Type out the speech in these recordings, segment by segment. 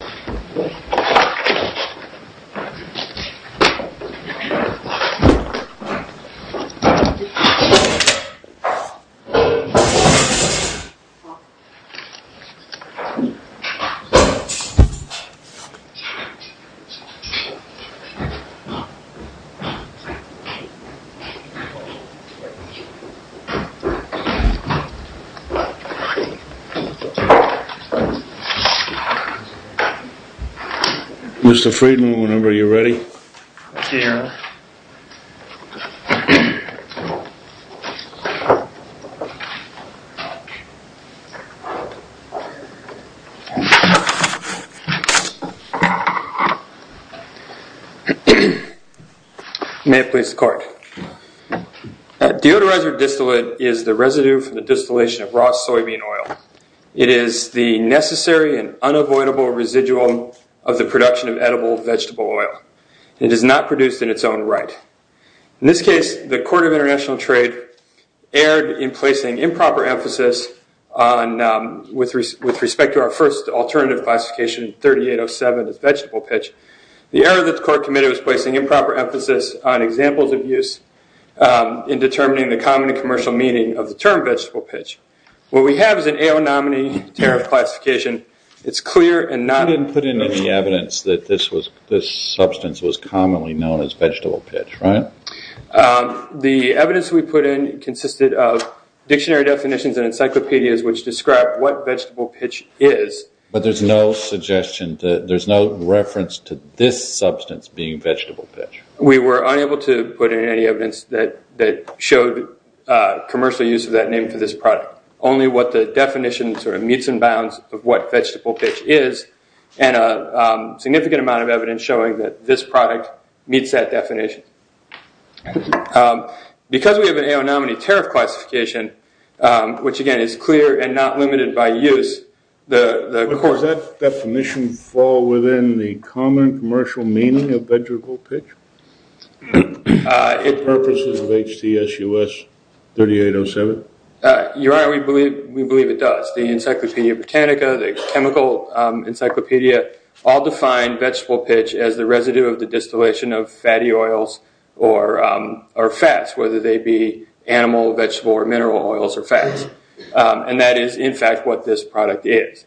h well well free well was afraid whenever you're ready here well well well well practiced group methods called district is the resident distillation of raw soybean oil cities the necessary an unavoidable residual of the production of edible that's well it is not produced in its own right this case record of international trade the improper activist on uh... with respect with respect to our first alternate classification thirty eight oh seven special pitch the other part of it is placing improper emphasis on examples of use uh... in determining the common commercial meaning of the term vegetable pitch what we have is an air nominee their classification it's clear and not even put into the evidence that this was this substance was commonly known as vegetable pitch right uh... the evidence we put in consisted of dictionary definitions and encyclopedias which describe what vegetable pitch is but there's no suggestion that there's no reference to this substance being vegetable pitch we were unable to put in any evidence that that showed uh... commercial use of that name for this product only what the definitions are meets and bounds of what vegetable pitch is and uh... uh... significant amount of evidence showing that this product meets that definition uh... because we have an air nominee tariff classification uh... which again is clear and not limited by use the the court does that definition fall within the common commercial meaning of vegetable pitch uh... it purposes of HTSUS thirty eight oh seven uh... your honor we believe we believe it does the encyclopedia botanica the chemical uh... encyclopedia all define vegetable pitch as the residue of the distillation of fatty oils or uh... or fats whether they be animal vegetable or mineral oils or fats uh... and that is in fact what this product is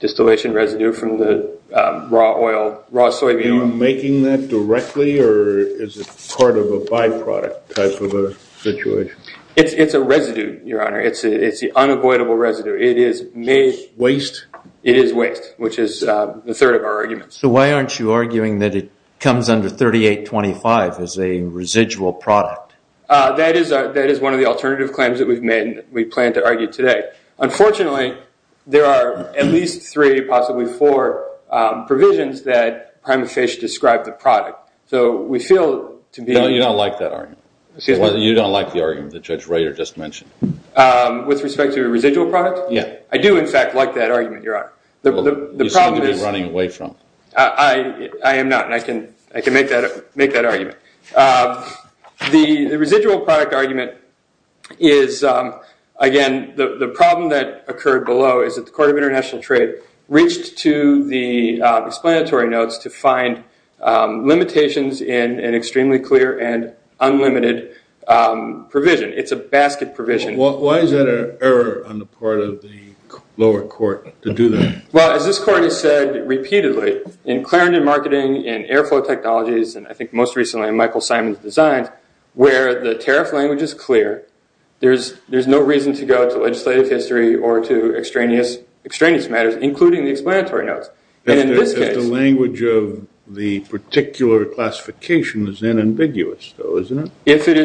distillation residue from the uh... raw oil raw soybean oil. Are you making that directly or is it part of a byproduct type of a situation? it's it's a residue your honor it's it's the unavoidable residue it is made waste it is waste which is uh... the third of our arguments. So why aren't you arguing that it is a residual product? uh... that is uh... that is one of the alternative claims that we've made and we plan to argue today unfortunately there are at least three possibly four uh... provisions that prime fish describe the product so we feel to be... No you don't like that argument you don't like the argument that Judge Rader just mentioned uh... with respect to a residual product? Yeah. I do in fact like that argument your honor the problem is... You seem to be running away from it uh... I am not and I can make that argument uh... the residual product argument is uh... again the problem that occurred below is that the court of international trade reached to the explanatory notes to find uh... limitations in an extremely clear and unlimited uh... provision it's a basket provision. Why is that an error on the part of the lower court to do that? Well as this court has said repeatedly in Clarendon Marketing, in Airflow Technologies, and I think most recently in Michael Simon's Design where the tariff language is clear there's no reason to go to legislative history or to extraneous extraneous matters including the explanatory notes and in this case... If the language of the particular classification is unambiguous though isn't it? If it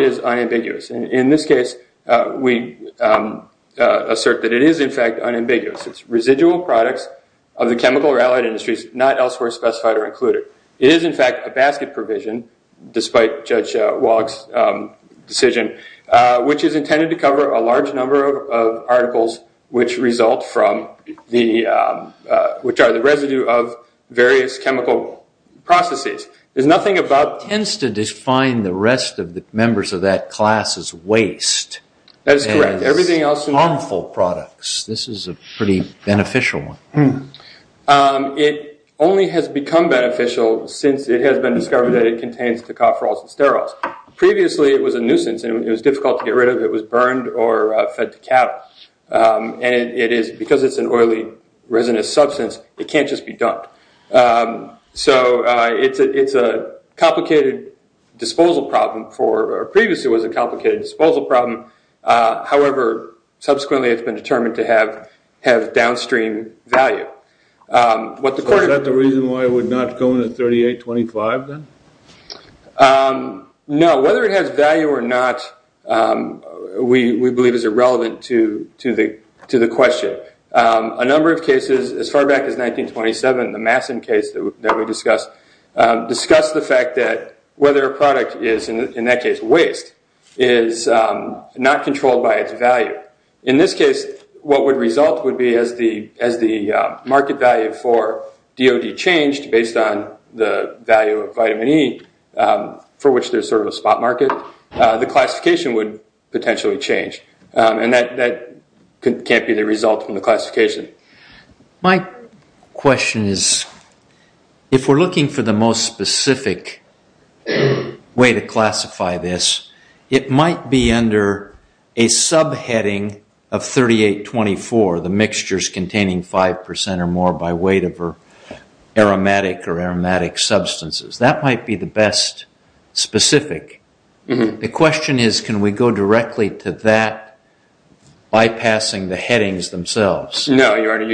is unambiguous and in this case uh... we uh... uh... assert that it is in fact unambiguous. It's residual products of the chemical or allied industries not elsewhere specified or included. It is in fact a basket provision despite Judge Walsh's decision uh... which is intended to cover a large number of articles which result from the uh... which are the residue of various chemical processes. There's nothing about... It tends to define the rest of the members of that class as waste. That is correct. Everything else is harmful products. This is a pretty beneficial one. It only has become beneficial since it has been discovered that it contains tocopherols and sterols. Previously it was a nuisance and it was difficult to get rid of. It was burned or fed to cattle. uh... and it is because it's an oily resinous substance it can't just be dumped. uh... so uh... it's a it's a complicated disposal problem for... Previously it was a complicated disposal problem uh... however subsequently it's been determined to have have downstream value. uh... Is that the reason why it would not go into 3825 then? uh... No. Whether it has value or not uh... we believe is irrelevant to the question. uh... A number of cases as far back as 1927, the Masson case that we discussed uh... discussed the fact that whether a product is in that case waste is uh... not controlled by its value. In this case what would result would be as the as the uh... market value for DOD changed based on the value of vitamin E uh... for which there's sort of a spot market uh... the classification would potentially change. uh... and that that can't be the result from the classification. My question is if we're looking for the most specific way to classify this it might be under a subheading of 3824, the mixtures containing five percent or more by weight of aromatic or aromatic substances. That might be the best specific. The question is can we go directly to that bypassing the headings themselves? No, your honor,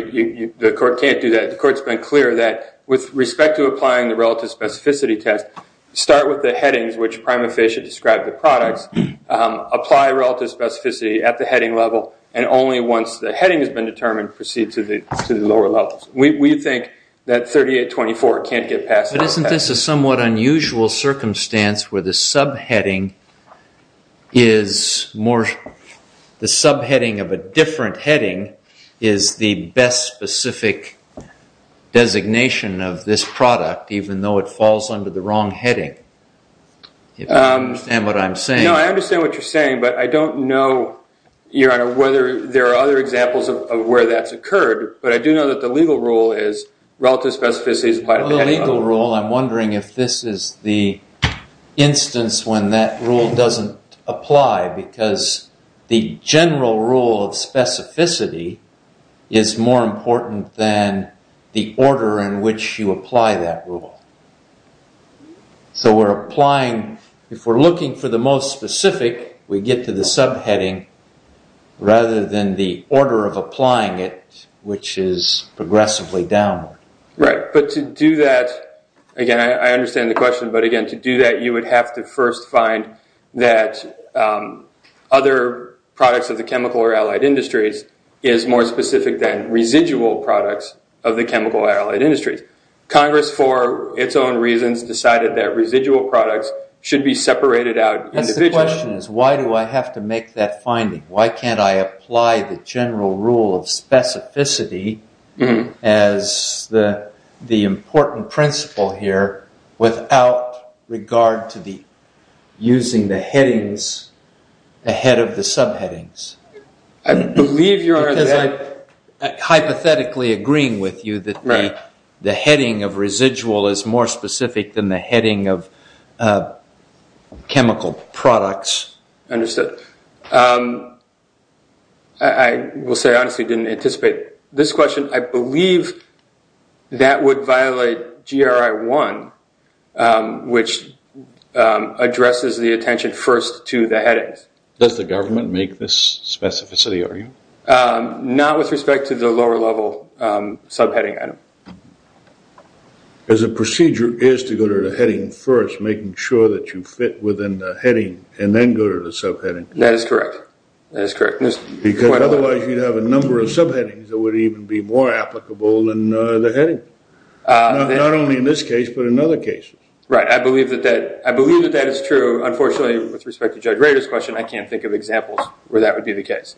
the court can't do that. The court's been clear that with respect to applying the relative specificity test start with the headings which prima facie describe the products. Uh... apply relative specificity at the heading level and only once the heading has been determined proceed to the lower levels. We think that 3824 can't get passed. But isn't this a somewhat unusual circumstance where the subheading is more the subheading of a different heading is the best specific designation of this product even though it falls under the wrong heading? If you understand what I'm saying. No, I understand what you're saying but I don't know your honor whether there are other examples of where that's occurred but I do know that the legal rule is relative specificity is applied at the heading level. Well the legal rule, I'm wondering if this is the instance when that rule doesn't apply because the general rule of specificity is more important than the order in which you apply that rule. So we're applying if we're looking for the most specific we get to the subheading rather than the order of applying it which is progressively downward. Right, but to do that again I understand the question but again to do that you would have to first find that other products of the chemical or allied industries is more specific than residual products of the chemical or allied industries. Congress for its own reasons decided that residual products should be separated out individually. That's the question is why do I have to make that finding? Why can't I apply the general rule of specificity as the important principle here without regard to the using the headings ahead of the subheadings? I believe you're... Because I'm hypothetically agreeing with you that the heading of residual is more specific than the heading of chemical products. Understood. I will say I honestly didn't anticipate this question. I believe that would violate GRI 1 which addresses the attention first to the headings. Does the government make this specificity? Not with respect to the lower level subheading item. As a procedure is to go to the heading first making sure that you fit within the heading and then go to the subheading. That is correct. Because otherwise you'd have a number of subheadings that would even be more applicable than the heading. Not only in this case but in other cases. Right. I believe that that is true. Unfortunately with respect to Judge Rader's question I can't think of examples where that would be the case.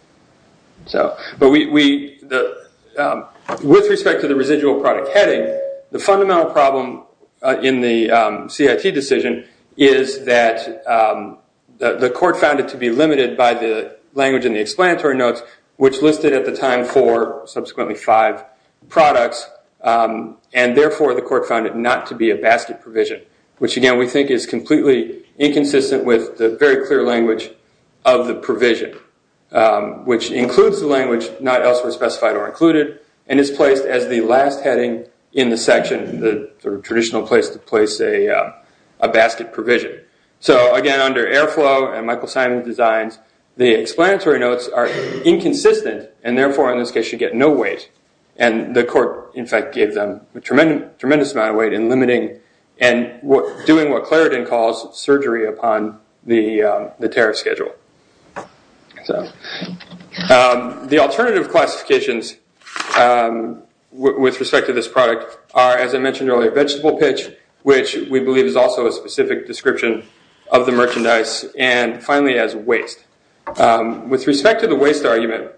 With respect to the residual product heading the fundamental problem in the CIT decision is that the court found it to be limited by the language in the explanatory notes which listed at the time four, subsequently five products and therefore the court found it not to be a basket provision which again we think is completely inconsistent with the very clear language of the provision which includes the language not elsewhere specified or included and is placed as the last heading in the section, the traditional place to place a basket provision. So again under Airflow and Michael Simon's designs the explanatory notes are inconsistent and therefore in this case you get no weight and the court in fact gave them a tremendous amount of weight in limiting and doing what Clarendon calls surgery upon the tariff schedule. The alternative classifications with respect to this product are as I mentioned earlier vegetable pitch which we believe is also a specific description of the merchandise and finally as waste. With respect to the waste argument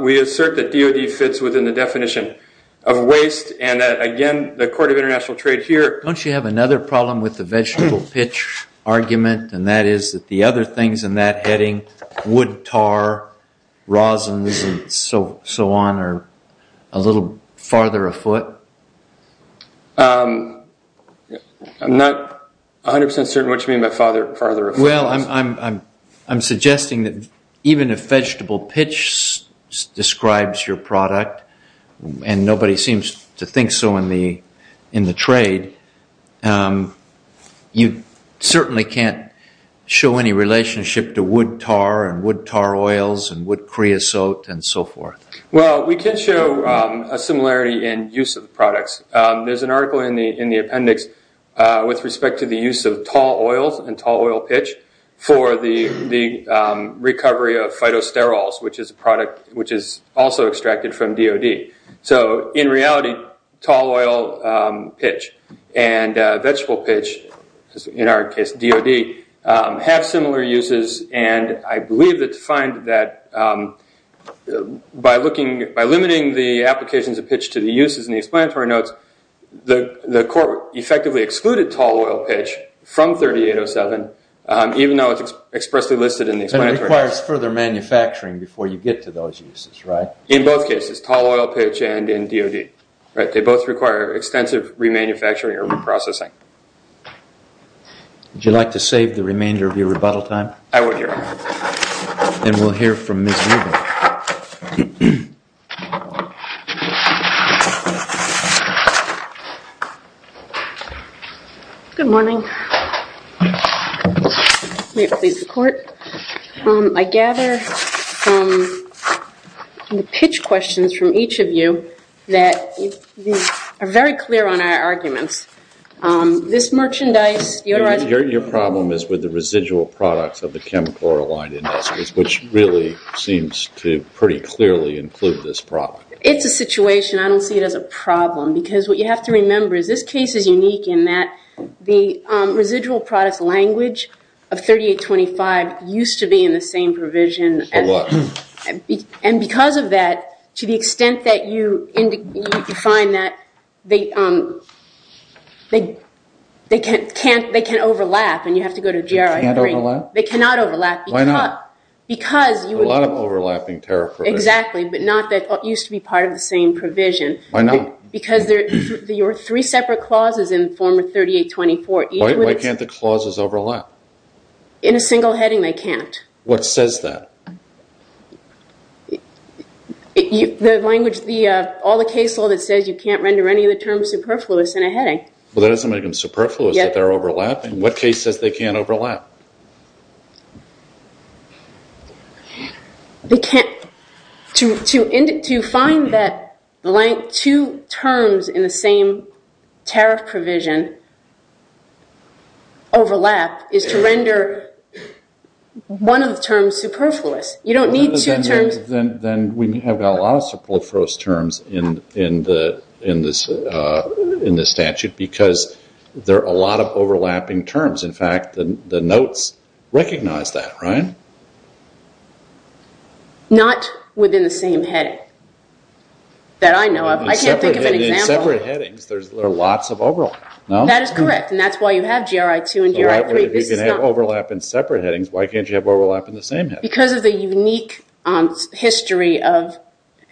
we assert that DOD fits within the definition of waste and that again the court of international trade here... Don't you have another problem with the vegetable pitch argument and that is that the other things in that heading wood tar, rosins and so so on are a little farther afoot? I'm not 100% certain what you mean by farther afoot. Well I'm suggesting that even if vegetable pitch describes your product and nobody seems to think so in the trade you certainly can't show any relationship to wood tar and wood tar oils and wood creosote and so forth. Well we can show a similarity in use of products. There's an article in the appendix with respect to the use of tall oils and tall oil pitch for the recovery of phytosterols which is a product which is also extracted from DOD. So in reality tall oil pitch and vegetable pitch in our case DOD have similar uses and I believe that to find that by limiting the applications of pitch to the uses in the explanatory notes the court effectively excluded tall oil pitch from 3807 even though it's expressly listed in the explanatory notes. And it requires further manufacturing before you get to those uses right? In both cases tall oil pitch and in DOD. They both require extensive remanufacturing or reprocessing. Would you like to save the remainder of your rebuttal time? I would. And we'll hear from Ms. Lieber. Good morning. May it please the court. I gather from the pitch questions from each of you that are very clear on our arguments. This merchandise. Your problem is with the residual products of the chemical oil line industry which really seems to pretty clearly include this problem. It's a situation. I don't see it as a problem because what you have to remember is this case is unique in that the residual products language of 3825 used to be in the same provision. And because of that to the extent that you find that they can't overlap. They cannot overlap. A lot of overlapping. Exactly. But not that it used to be part of the same provision. Why not? Because there are three separate clauses in form of 3824. Why can't the clauses overlap? In a single heading they can't. What says that? The language, all the case law that says you can't render any of the terms superfluous in a heading. Well that doesn't make them superfluous, that they're overlapping. What case says they can't overlap? They can't. To find that blank two terms in the same tariff provision overlap is to render one of the terms superfluous. You don't need two terms. Then we have a lot of superfluous terms in the statute because there are a lot of overlapping terms. In fact, the notes recognize that, right? Not within the same heading that I know of. I can't think of an example. In separate headings there are lots of overlap. That is correct. That's why you have GRI 2 and GRI 3. If you can have overlap in separate headings, why can't you have overlap in the same heading? Because of the unique history of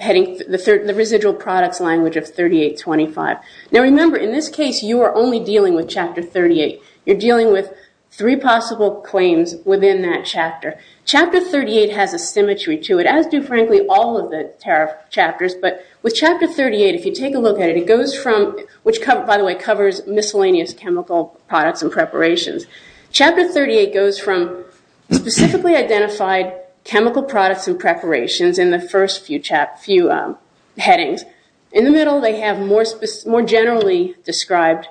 the residual products language of 3825. Now remember, in this case you are only dealing with Chapter 38. You're dealing with three possible claims within that chapter. Chapter 38 has a symmetry to it, as do, frankly, all of the tariff chapters. But with Chapter 38, if you take a look at it, it goes from which, by the way, covers miscellaneous chemical products and preparations. Chapter 38 goes from specifically identified chemical products and preparations in the first few headings. In the middle they have more generally described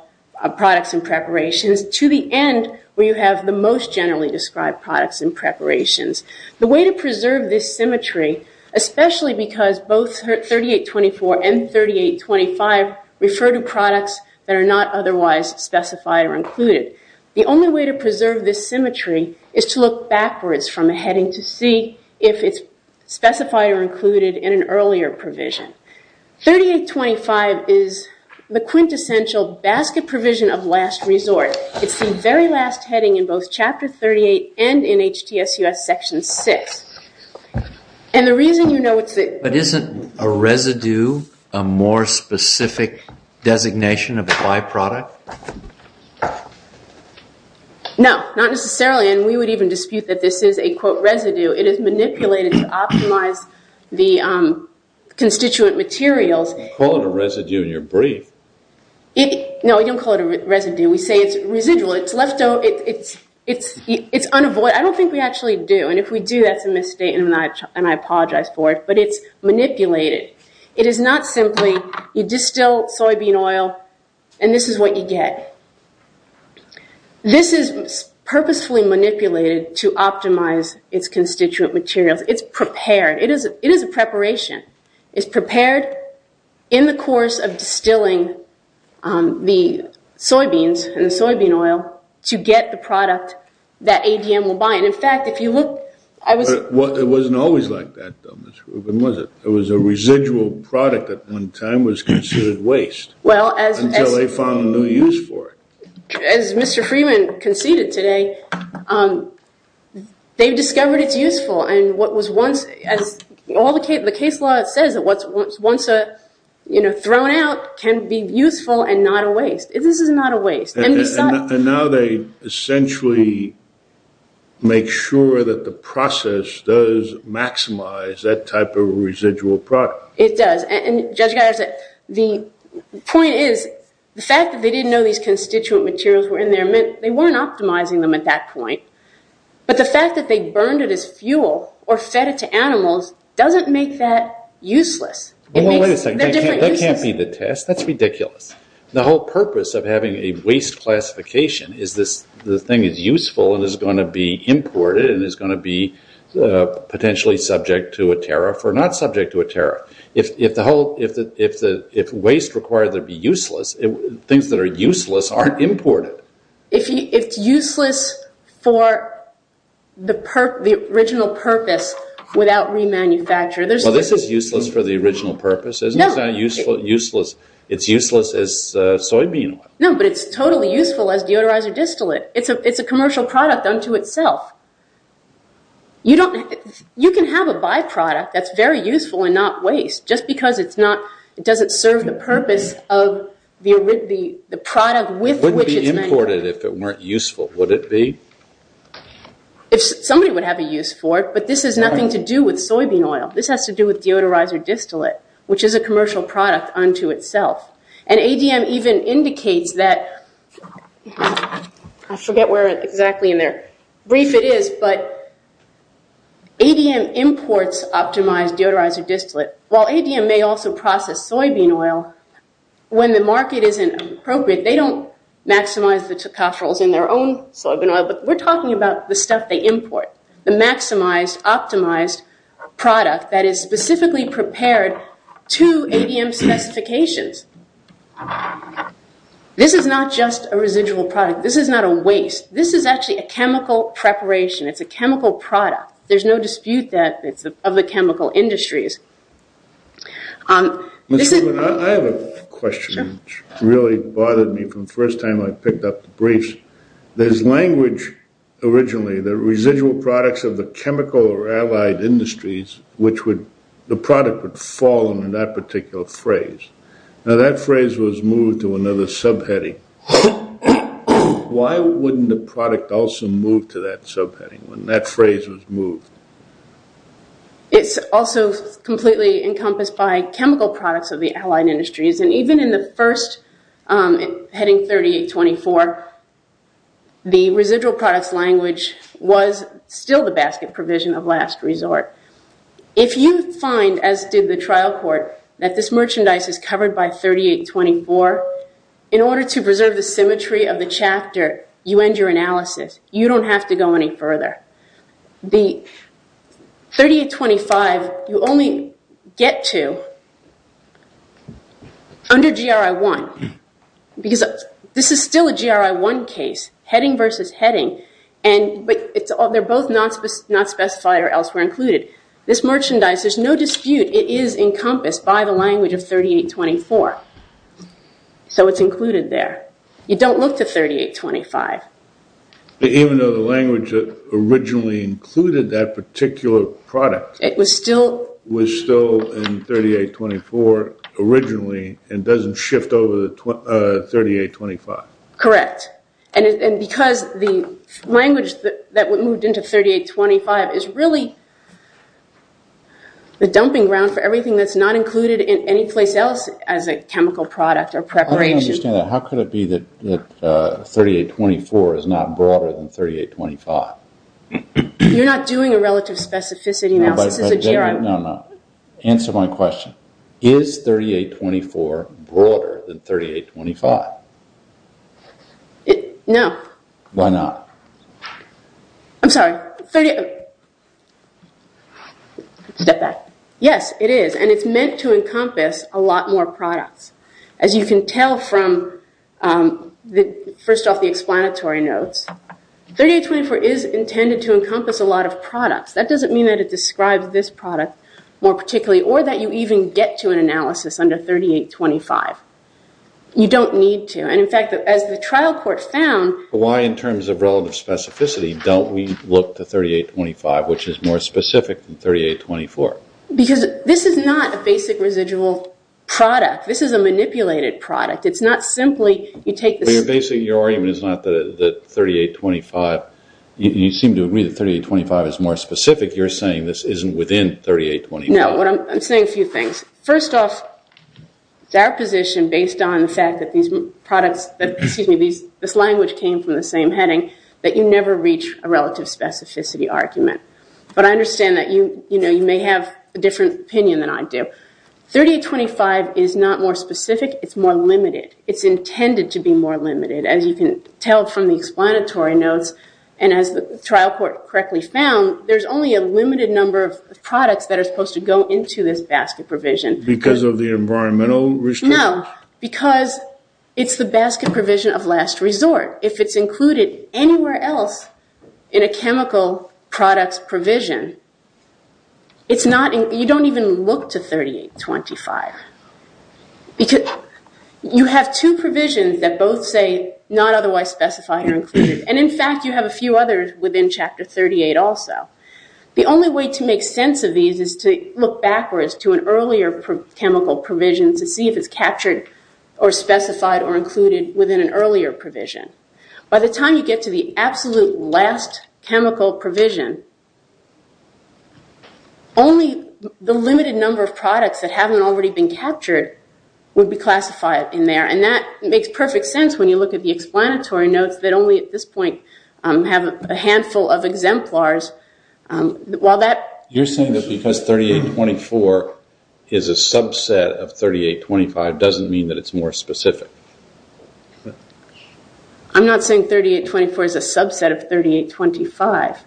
products and preparations. To the end, where you have the most generally described products and preparations. The way to preserve this symmetry, especially because both 3824 and 3825 refer to products that are not otherwise specified or included. The only way to preserve this symmetry is to look backwards from a heading to see if it's specified or included in an earlier provision. 3825 is the quintessential basket provision of last resort. It's the very last heading in both Chapter 38 and in HTSUS Section 6. And the reason you know it's the... But isn't a residue a more specific designation of a byproduct? No. Not necessarily. And we would even dispute that this is a quote residue. It is manipulated to optimize the constituent materials. You call it a residue in your brief. No, we don't call it a residue. We say it's residual. It's left out. It's unavoidable. I don't think we actually do. And if we do, that's a mistake. And I apologize for it. But it's manipulated. It is not simply you distill soybean oil and this is what you get. This is purposefully manipulated to optimize its constituent materials. It's prepared. It is a preparation. It's prepared in the course of distilling the soybeans and the soybean oil to get the product that ADM will buy. And in fact, if you look... It wasn't always like that. It was a residual product that at one time was considered waste. Well, as... Until they found a new use for it. As Mr. Freeman conceded today, they discovered it's useful. And what was once... As the case law says, what's once thrown out can be useful and not a waste. This is not a waste. And now they essentially make sure that the process does maximize that type of residual product. It does. And Judge Geisler, the point is the fact that they didn't know these constituent materials were in there meant they weren't optimizing them at that point. But the fact that they burned it as fuel or fed it to animals doesn't make that useless. It makes... They're different uses. Well, wait a second. That can't be the test. That's ridiculous. The whole purpose of having a waste classification is this... The thing is useful and is going to be imported and is going to be potentially subject to a tariff or not subject to a tariff. If the whole... If waste required to be useless, things that are useless aren't imported. If it's useless for the original purpose without remanufacture, there's... Well, this is useless for the original purpose. Isn't that useful? Useless. It's useless as soybean oil. No, but it's totally useful as deodorizer distillate. It's a commercial product unto itself. You don't... You can have a byproduct that's very useful and not waste just because it's not... It doesn't serve the purpose of the product with which it's manufactured. It wouldn't be imported if it weren't useful, would it be? If somebody would have a use for it, but this has nothing to do with soybean oil. This has to do with deodorizer distillate, which is a commercial product unto itself. And ADM even indicates that... I forget where exactly in their brief it is, but ADM imports optimized deodorizer distillate. While ADM may also process soybean oil, when the market isn't appropriate, they don't maximize the tocopherols in their own soybean oil, but we're talking about the stuff they import, the maximized, optimized product that is specifically prepared to ADM specifications. This is not just a residual product. This is not a waste. This is actually a chemical preparation. It's a chemical product. There's no dispute that it's of the chemical industries. Mr. Wood, I have a question which really bothered me from the first time I picked up the briefs. There's language originally, the residual products of the chemical or allied industries, which would... The product would fall under that particular phrase. Now, that phrase was moved to another subheading. Why wouldn't the product also move to that subheading when that phrase was moved? It's also completely encompassed by chemical products of the allied industries. And even in the first, heading 3824, the residual products language was still the basket provision of last resort. If you find, as did the trial court, that this merchandise is covered by 3824, in order to preserve the symmetry of the chapter, you end your analysis. You don't have to go any further. The 3825, you only get to under GRI 1. Because this is still a GRI 1 case, heading versus heading. And they're both not specified or elsewhere included. This merchandise, there's no dispute. It is encompassed by the language of 3824. So it's included there. You don't look to 3825. Even though the language that originally included that particular product... It was still... Was still in 3824 originally, and doesn't shift over to 3825. Correct. And because the language that moved into 3825 is really the dumping ground for everything that's not included in any place else as a chemical product or preparation. How could it be that 3824 is not broader than 3825? You're not doing a relative specificity analysis. It's a GRI... No, no. Answer my question. Is 3824 broader than 3825? No. Why not? I'm sorry. Yes, it is. And it's meant to encompass a lot more products. As you can tell from, first off, the explanatory notes, 3824 is intended to encompass a lot of products. That doesn't mean that it describes this product more particularly, or that you even get to an analysis under 3825. You don't need to. And in fact, as the trial court found... Why, in terms of relative specificity, don't we look to 3825, which is more specific than 3824? Because this is not a basic residual product. This is a manipulated product. It's not simply... You're basically... Your argument is not that 3825... You seem to agree that 3825 is more specific. You're saying this isn't within 3824. No, I'm saying a few things. First off, it's our position, based on the fact that these products... Excuse me, this language came from the same heading, that you never reach a relative specificity argument. But I understand that you may have a different opinion than I do. 3825 is not more specific. It's more limited. It's intended to be more limited, as you can tell from the explanatory notes. And as the trial court correctly found, there's only a limited number of products that are supposed to go into this basket provision. Because of the environmental restriction? No, because it's the basket provision of last resort. If it's included anywhere else in a chemical products provision, it's not... You don't even look to 3825. You have two provisions that both say, not otherwise specified or included. And in fact, you have a few others within Chapter 38 also. The only way to make sense of these is to look backwards to an earlier chemical provision to see if it's captured or specified or included within an earlier provision. By the time you get to the absolute last chemical provision, only the limited number of products that haven't already been captured would be classified in there. And that makes perfect sense when you look at the explanatory notes that only at this point have a handful of exemplars. You're saying that because 3824 is a subset of 3825 doesn't mean that it's more specific? I'm not saying 3824 is a subset of 3825.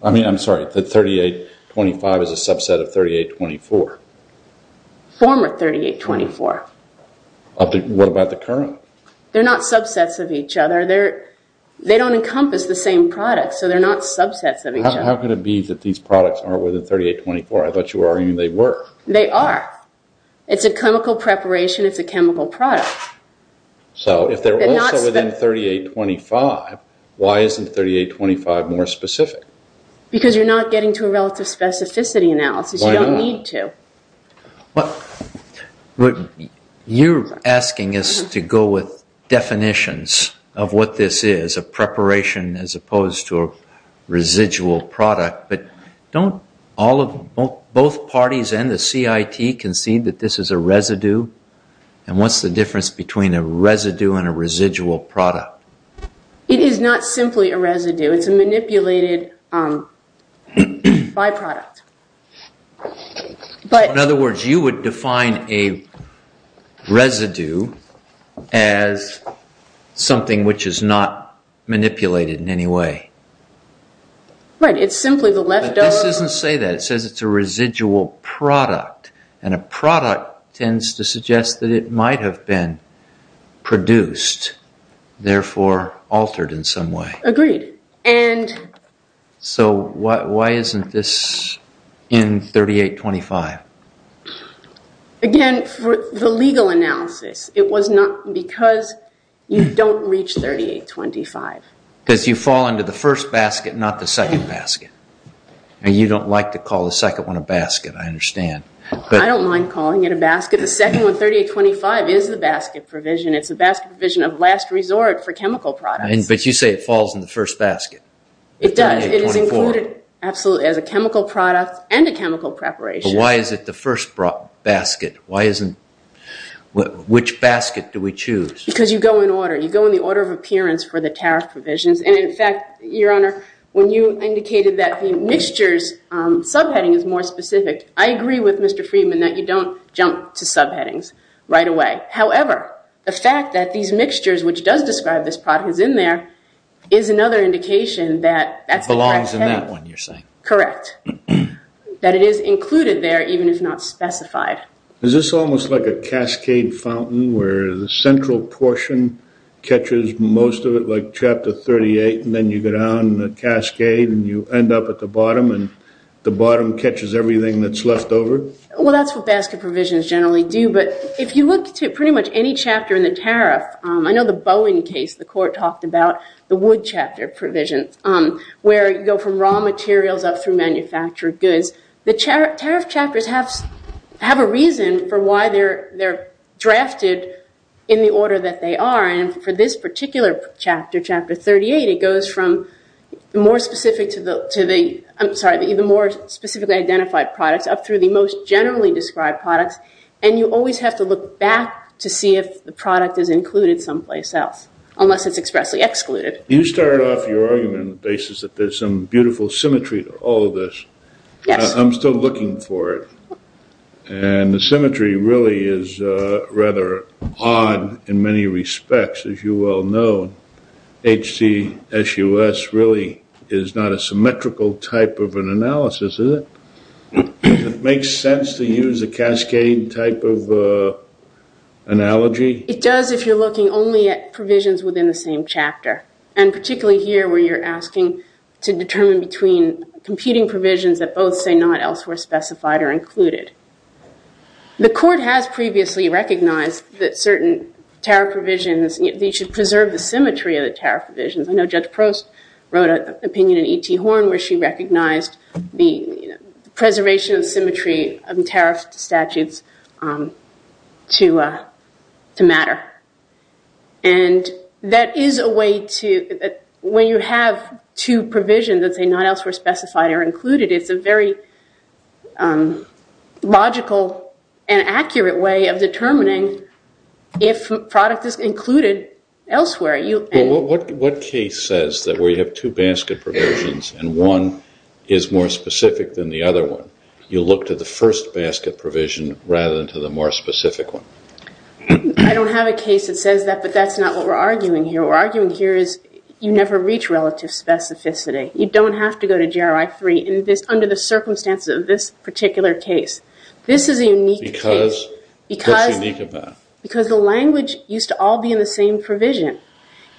I mean, I'm sorry, that 3825 is a subset of 3824. Former 3824. What about the current? They're not subsets of each other. They don't encompass the same product, so they're not subsets of each other. How could it be that these products aren't within 3824? I thought you were arguing they were. They are. It's a chemical preparation. It's a chemical product. So if they're also within 3825, why isn't 3825 more specific? Because you're not getting to a relative specificity analysis. You don't need to. But you're asking us to go with definitions of what this is, a preparation as opposed to a residual product. But don't both parties and the CIT concede that this is a residue? And what's the difference between a residue and a residual product? It is not simply a residue. It's a manipulated byproduct. In other words, you would define a residue as something which is not manipulated in any way. Right. It's simply the leftover. But this doesn't say that. It says it's a residual product. And a product tends to suggest that it might have been produced, therefore altered in some way. Agreed. So why isn't this in 3825? Again, for the legal analysis, it was not because you don't reach 3825. Because you fall into the first basket, not the second basket. And you don't like to call the second one a basket. I understand. I don't mind calling it a basket. The second one, 3825, is the basket provision. It's a basket provision of last resort for chemical products. But you say it falls in the first basket. It does. It is included absolutely as a chemical product and a chemical preparation. Why is it the first basket? Why isn't... Which basket do we choose? Because you go in order. You go in the order of appearance for the tariff provisions. And in fact, Your Honor, when you indicated that the mixtures subheading is more specific, I agree with Mr. Friedman that you don't jump to subheadings right away. However, the fact that these mixtures, which does describe this product, is in there, is another indication that that's... Belongs in that one, you're saying. Correct. That it is included there, even if not specified. Is this almost like a cascade fountain where the central portion catches most of it, like Chapter 38, and then you go down the cascade and you end up at the bottom and the bottom catches everything that's left over? Well, that's what basket provisions generally do. But if you look to pretty much any chapter in the tariff, I know the Bowen case, the court talked about the wood chapter provisions, where you go from raw materials up through manufactured goods. The tariff chapters have a reason for why they're drafted in the order that they are. And for this particular chapter, Chapter 38, it goes from the more specific to the... I'm sorry, the more specifically identified products up through the most generally described products. And you always have to look back to see if the product is included someplace else, unless it's expressly excluded. You started off your argument on the basis that there's some beautiful symmetry to all of this. Yes. I'm still looking for it. And the symmetry really is rather odd in many respects. As you well know, HCSUS really is not a symmetrical type of an analysis, is it? It makes sense to use a cascade type of analogy? It does if you're looking only at provisions within the same chapter. And particularly here where you're asking to determine between competing provisions that both say not elsewhere specified or included. The court has previously recognized that certain tariff provisions, they should preserve the symmetry of the tariff provisions. I know Judge Prost wrote an opinion in E.T. Horne where she recognized the preservation of symmetry of tariff statutes to matter. And that is a way to... when you have two provisions that say not elsewhere specified or included, it's a very logical and accurate way of determining if a product is included elsewhere. What case says that where you have two basket provisions and one is more specific than the other one, you look to the first basket provision rather than to the more specific one? I don't have a case that says that, but that's not what we're arguing here. What we're arguing here is you never reach relative specificity. You don't have to go to GRI 3 under the circumstances of this particular case. This is a unique case. Because what's unique about it? Because the language used to all be in the same provision.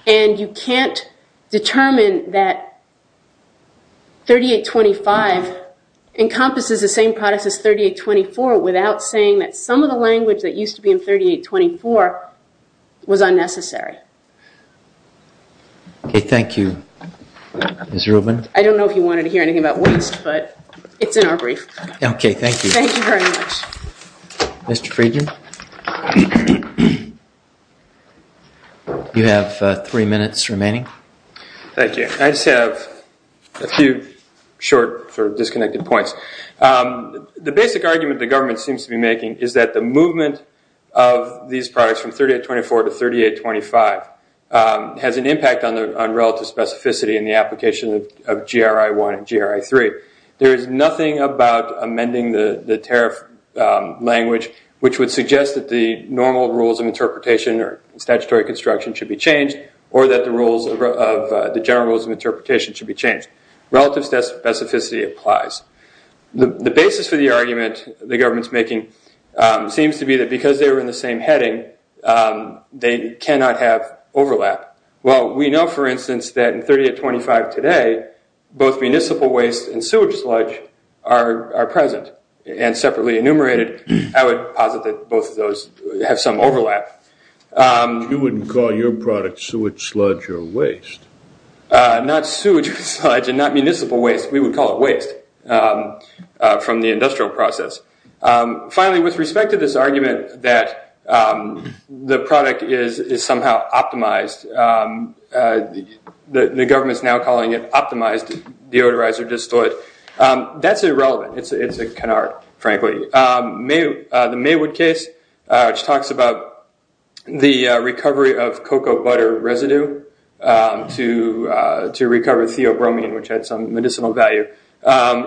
And you can't determine that 3825 encompasses the same products as 3824 without saying that some of the language that used to be in 3824 was unnecessary. Okay, thank you. Ms. Rubin? I don't know if you wanted to hear anything about waste, but it's in our brief. Okay, thank you. Thank you very much. Mr. Friedman? You have three minutes remaining. Thank you. I just have a few short, sort of disconnected points. The basic argument the government seems to be making is that the movement of these products from 3824 to 3825 has an impact on relative specificity in the application of GRI 1 and GRI 3. There is nothing about amending the tariff language which would suggest that the normal rules of interpretation or statutory construction should be changed or that the general rules of interpretation should be changed. Relative specificity applies. The basis for the argument the government's making seems to be that because they were in the same heading, they cannot have overlap. Well, we know, for instance, that in 3825 today, both municipal waste and sewage sludge are present and separately enumerated. I would posit that both of those have some overlap. You wouldn't call your product sewage sludge or waste? Not sewage or sludge and not municipal waste. We would call it waste from the industrial process. Finally, with respect to this argument that the product is somehow optimized, the government's now calling it optimized deodorizer distillate. That's irrelevant. It's a canard, frankly. The Maywood case, which talks about the recovery of cocoa butter residue to recover theobromine, which had some medicinal value.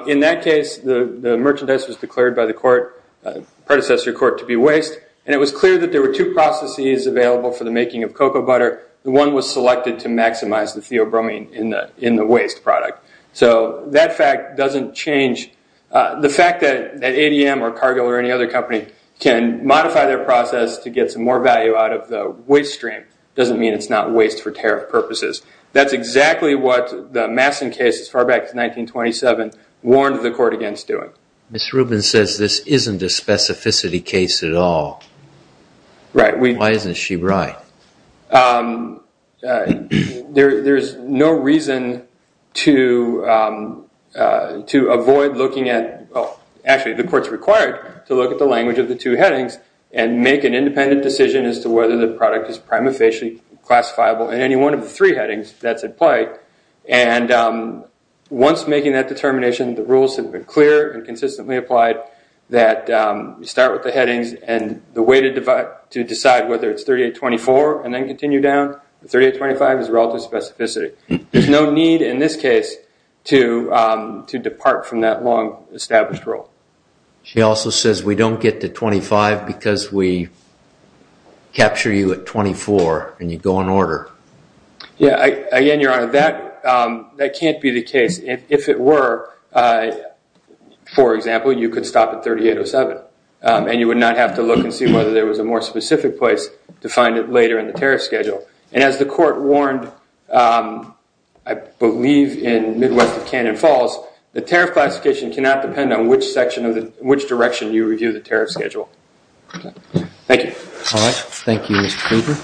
In that case, the merchandise was declared by the predecessor court to be waste, and it was clear that there were two processes available for the making of cocoa butter. The one was selected to maximize the theobromine in the waste product. So that fact doesn't change. The fact that ADM or Cargill or any other company can modify their process to get some more value out of the waste stream doesn't mean it's not waste for tariff purposes. That's exactly what the Masson case as far back as 1927 warned the court against doing. Ms. Rubin says this isn't a specificity case at all. Right. Why isn't she right? There's no reason to avoid looking at... Actually, the court's required to look at the language of the two headings and make an independent decision as to whether the product is prima facie classifiable in any one of the three headings that's implied. And once making that determination, the rules have been clear and consistently applied that you start with the headings and the way to decide whether it's 3824 and then continue down, 3825 is relative specificity. There's no need in this case to depart from that long established rule. She also says we don't get to 25 because we capture you at 24 and you go in order. Yeah. Again, Your Honor, that can't be the case. If it were, for example, you could stop at 3807 and you would not have to look and see whether there was a more specific place to find it later in the tariff schedule. And as the court warned, I believe in Midwest of Cannon Falls, the tariff classification cannot depend on which direction you review the tariff schedule. Thank you. All right. Thank you, Mr. Cooper.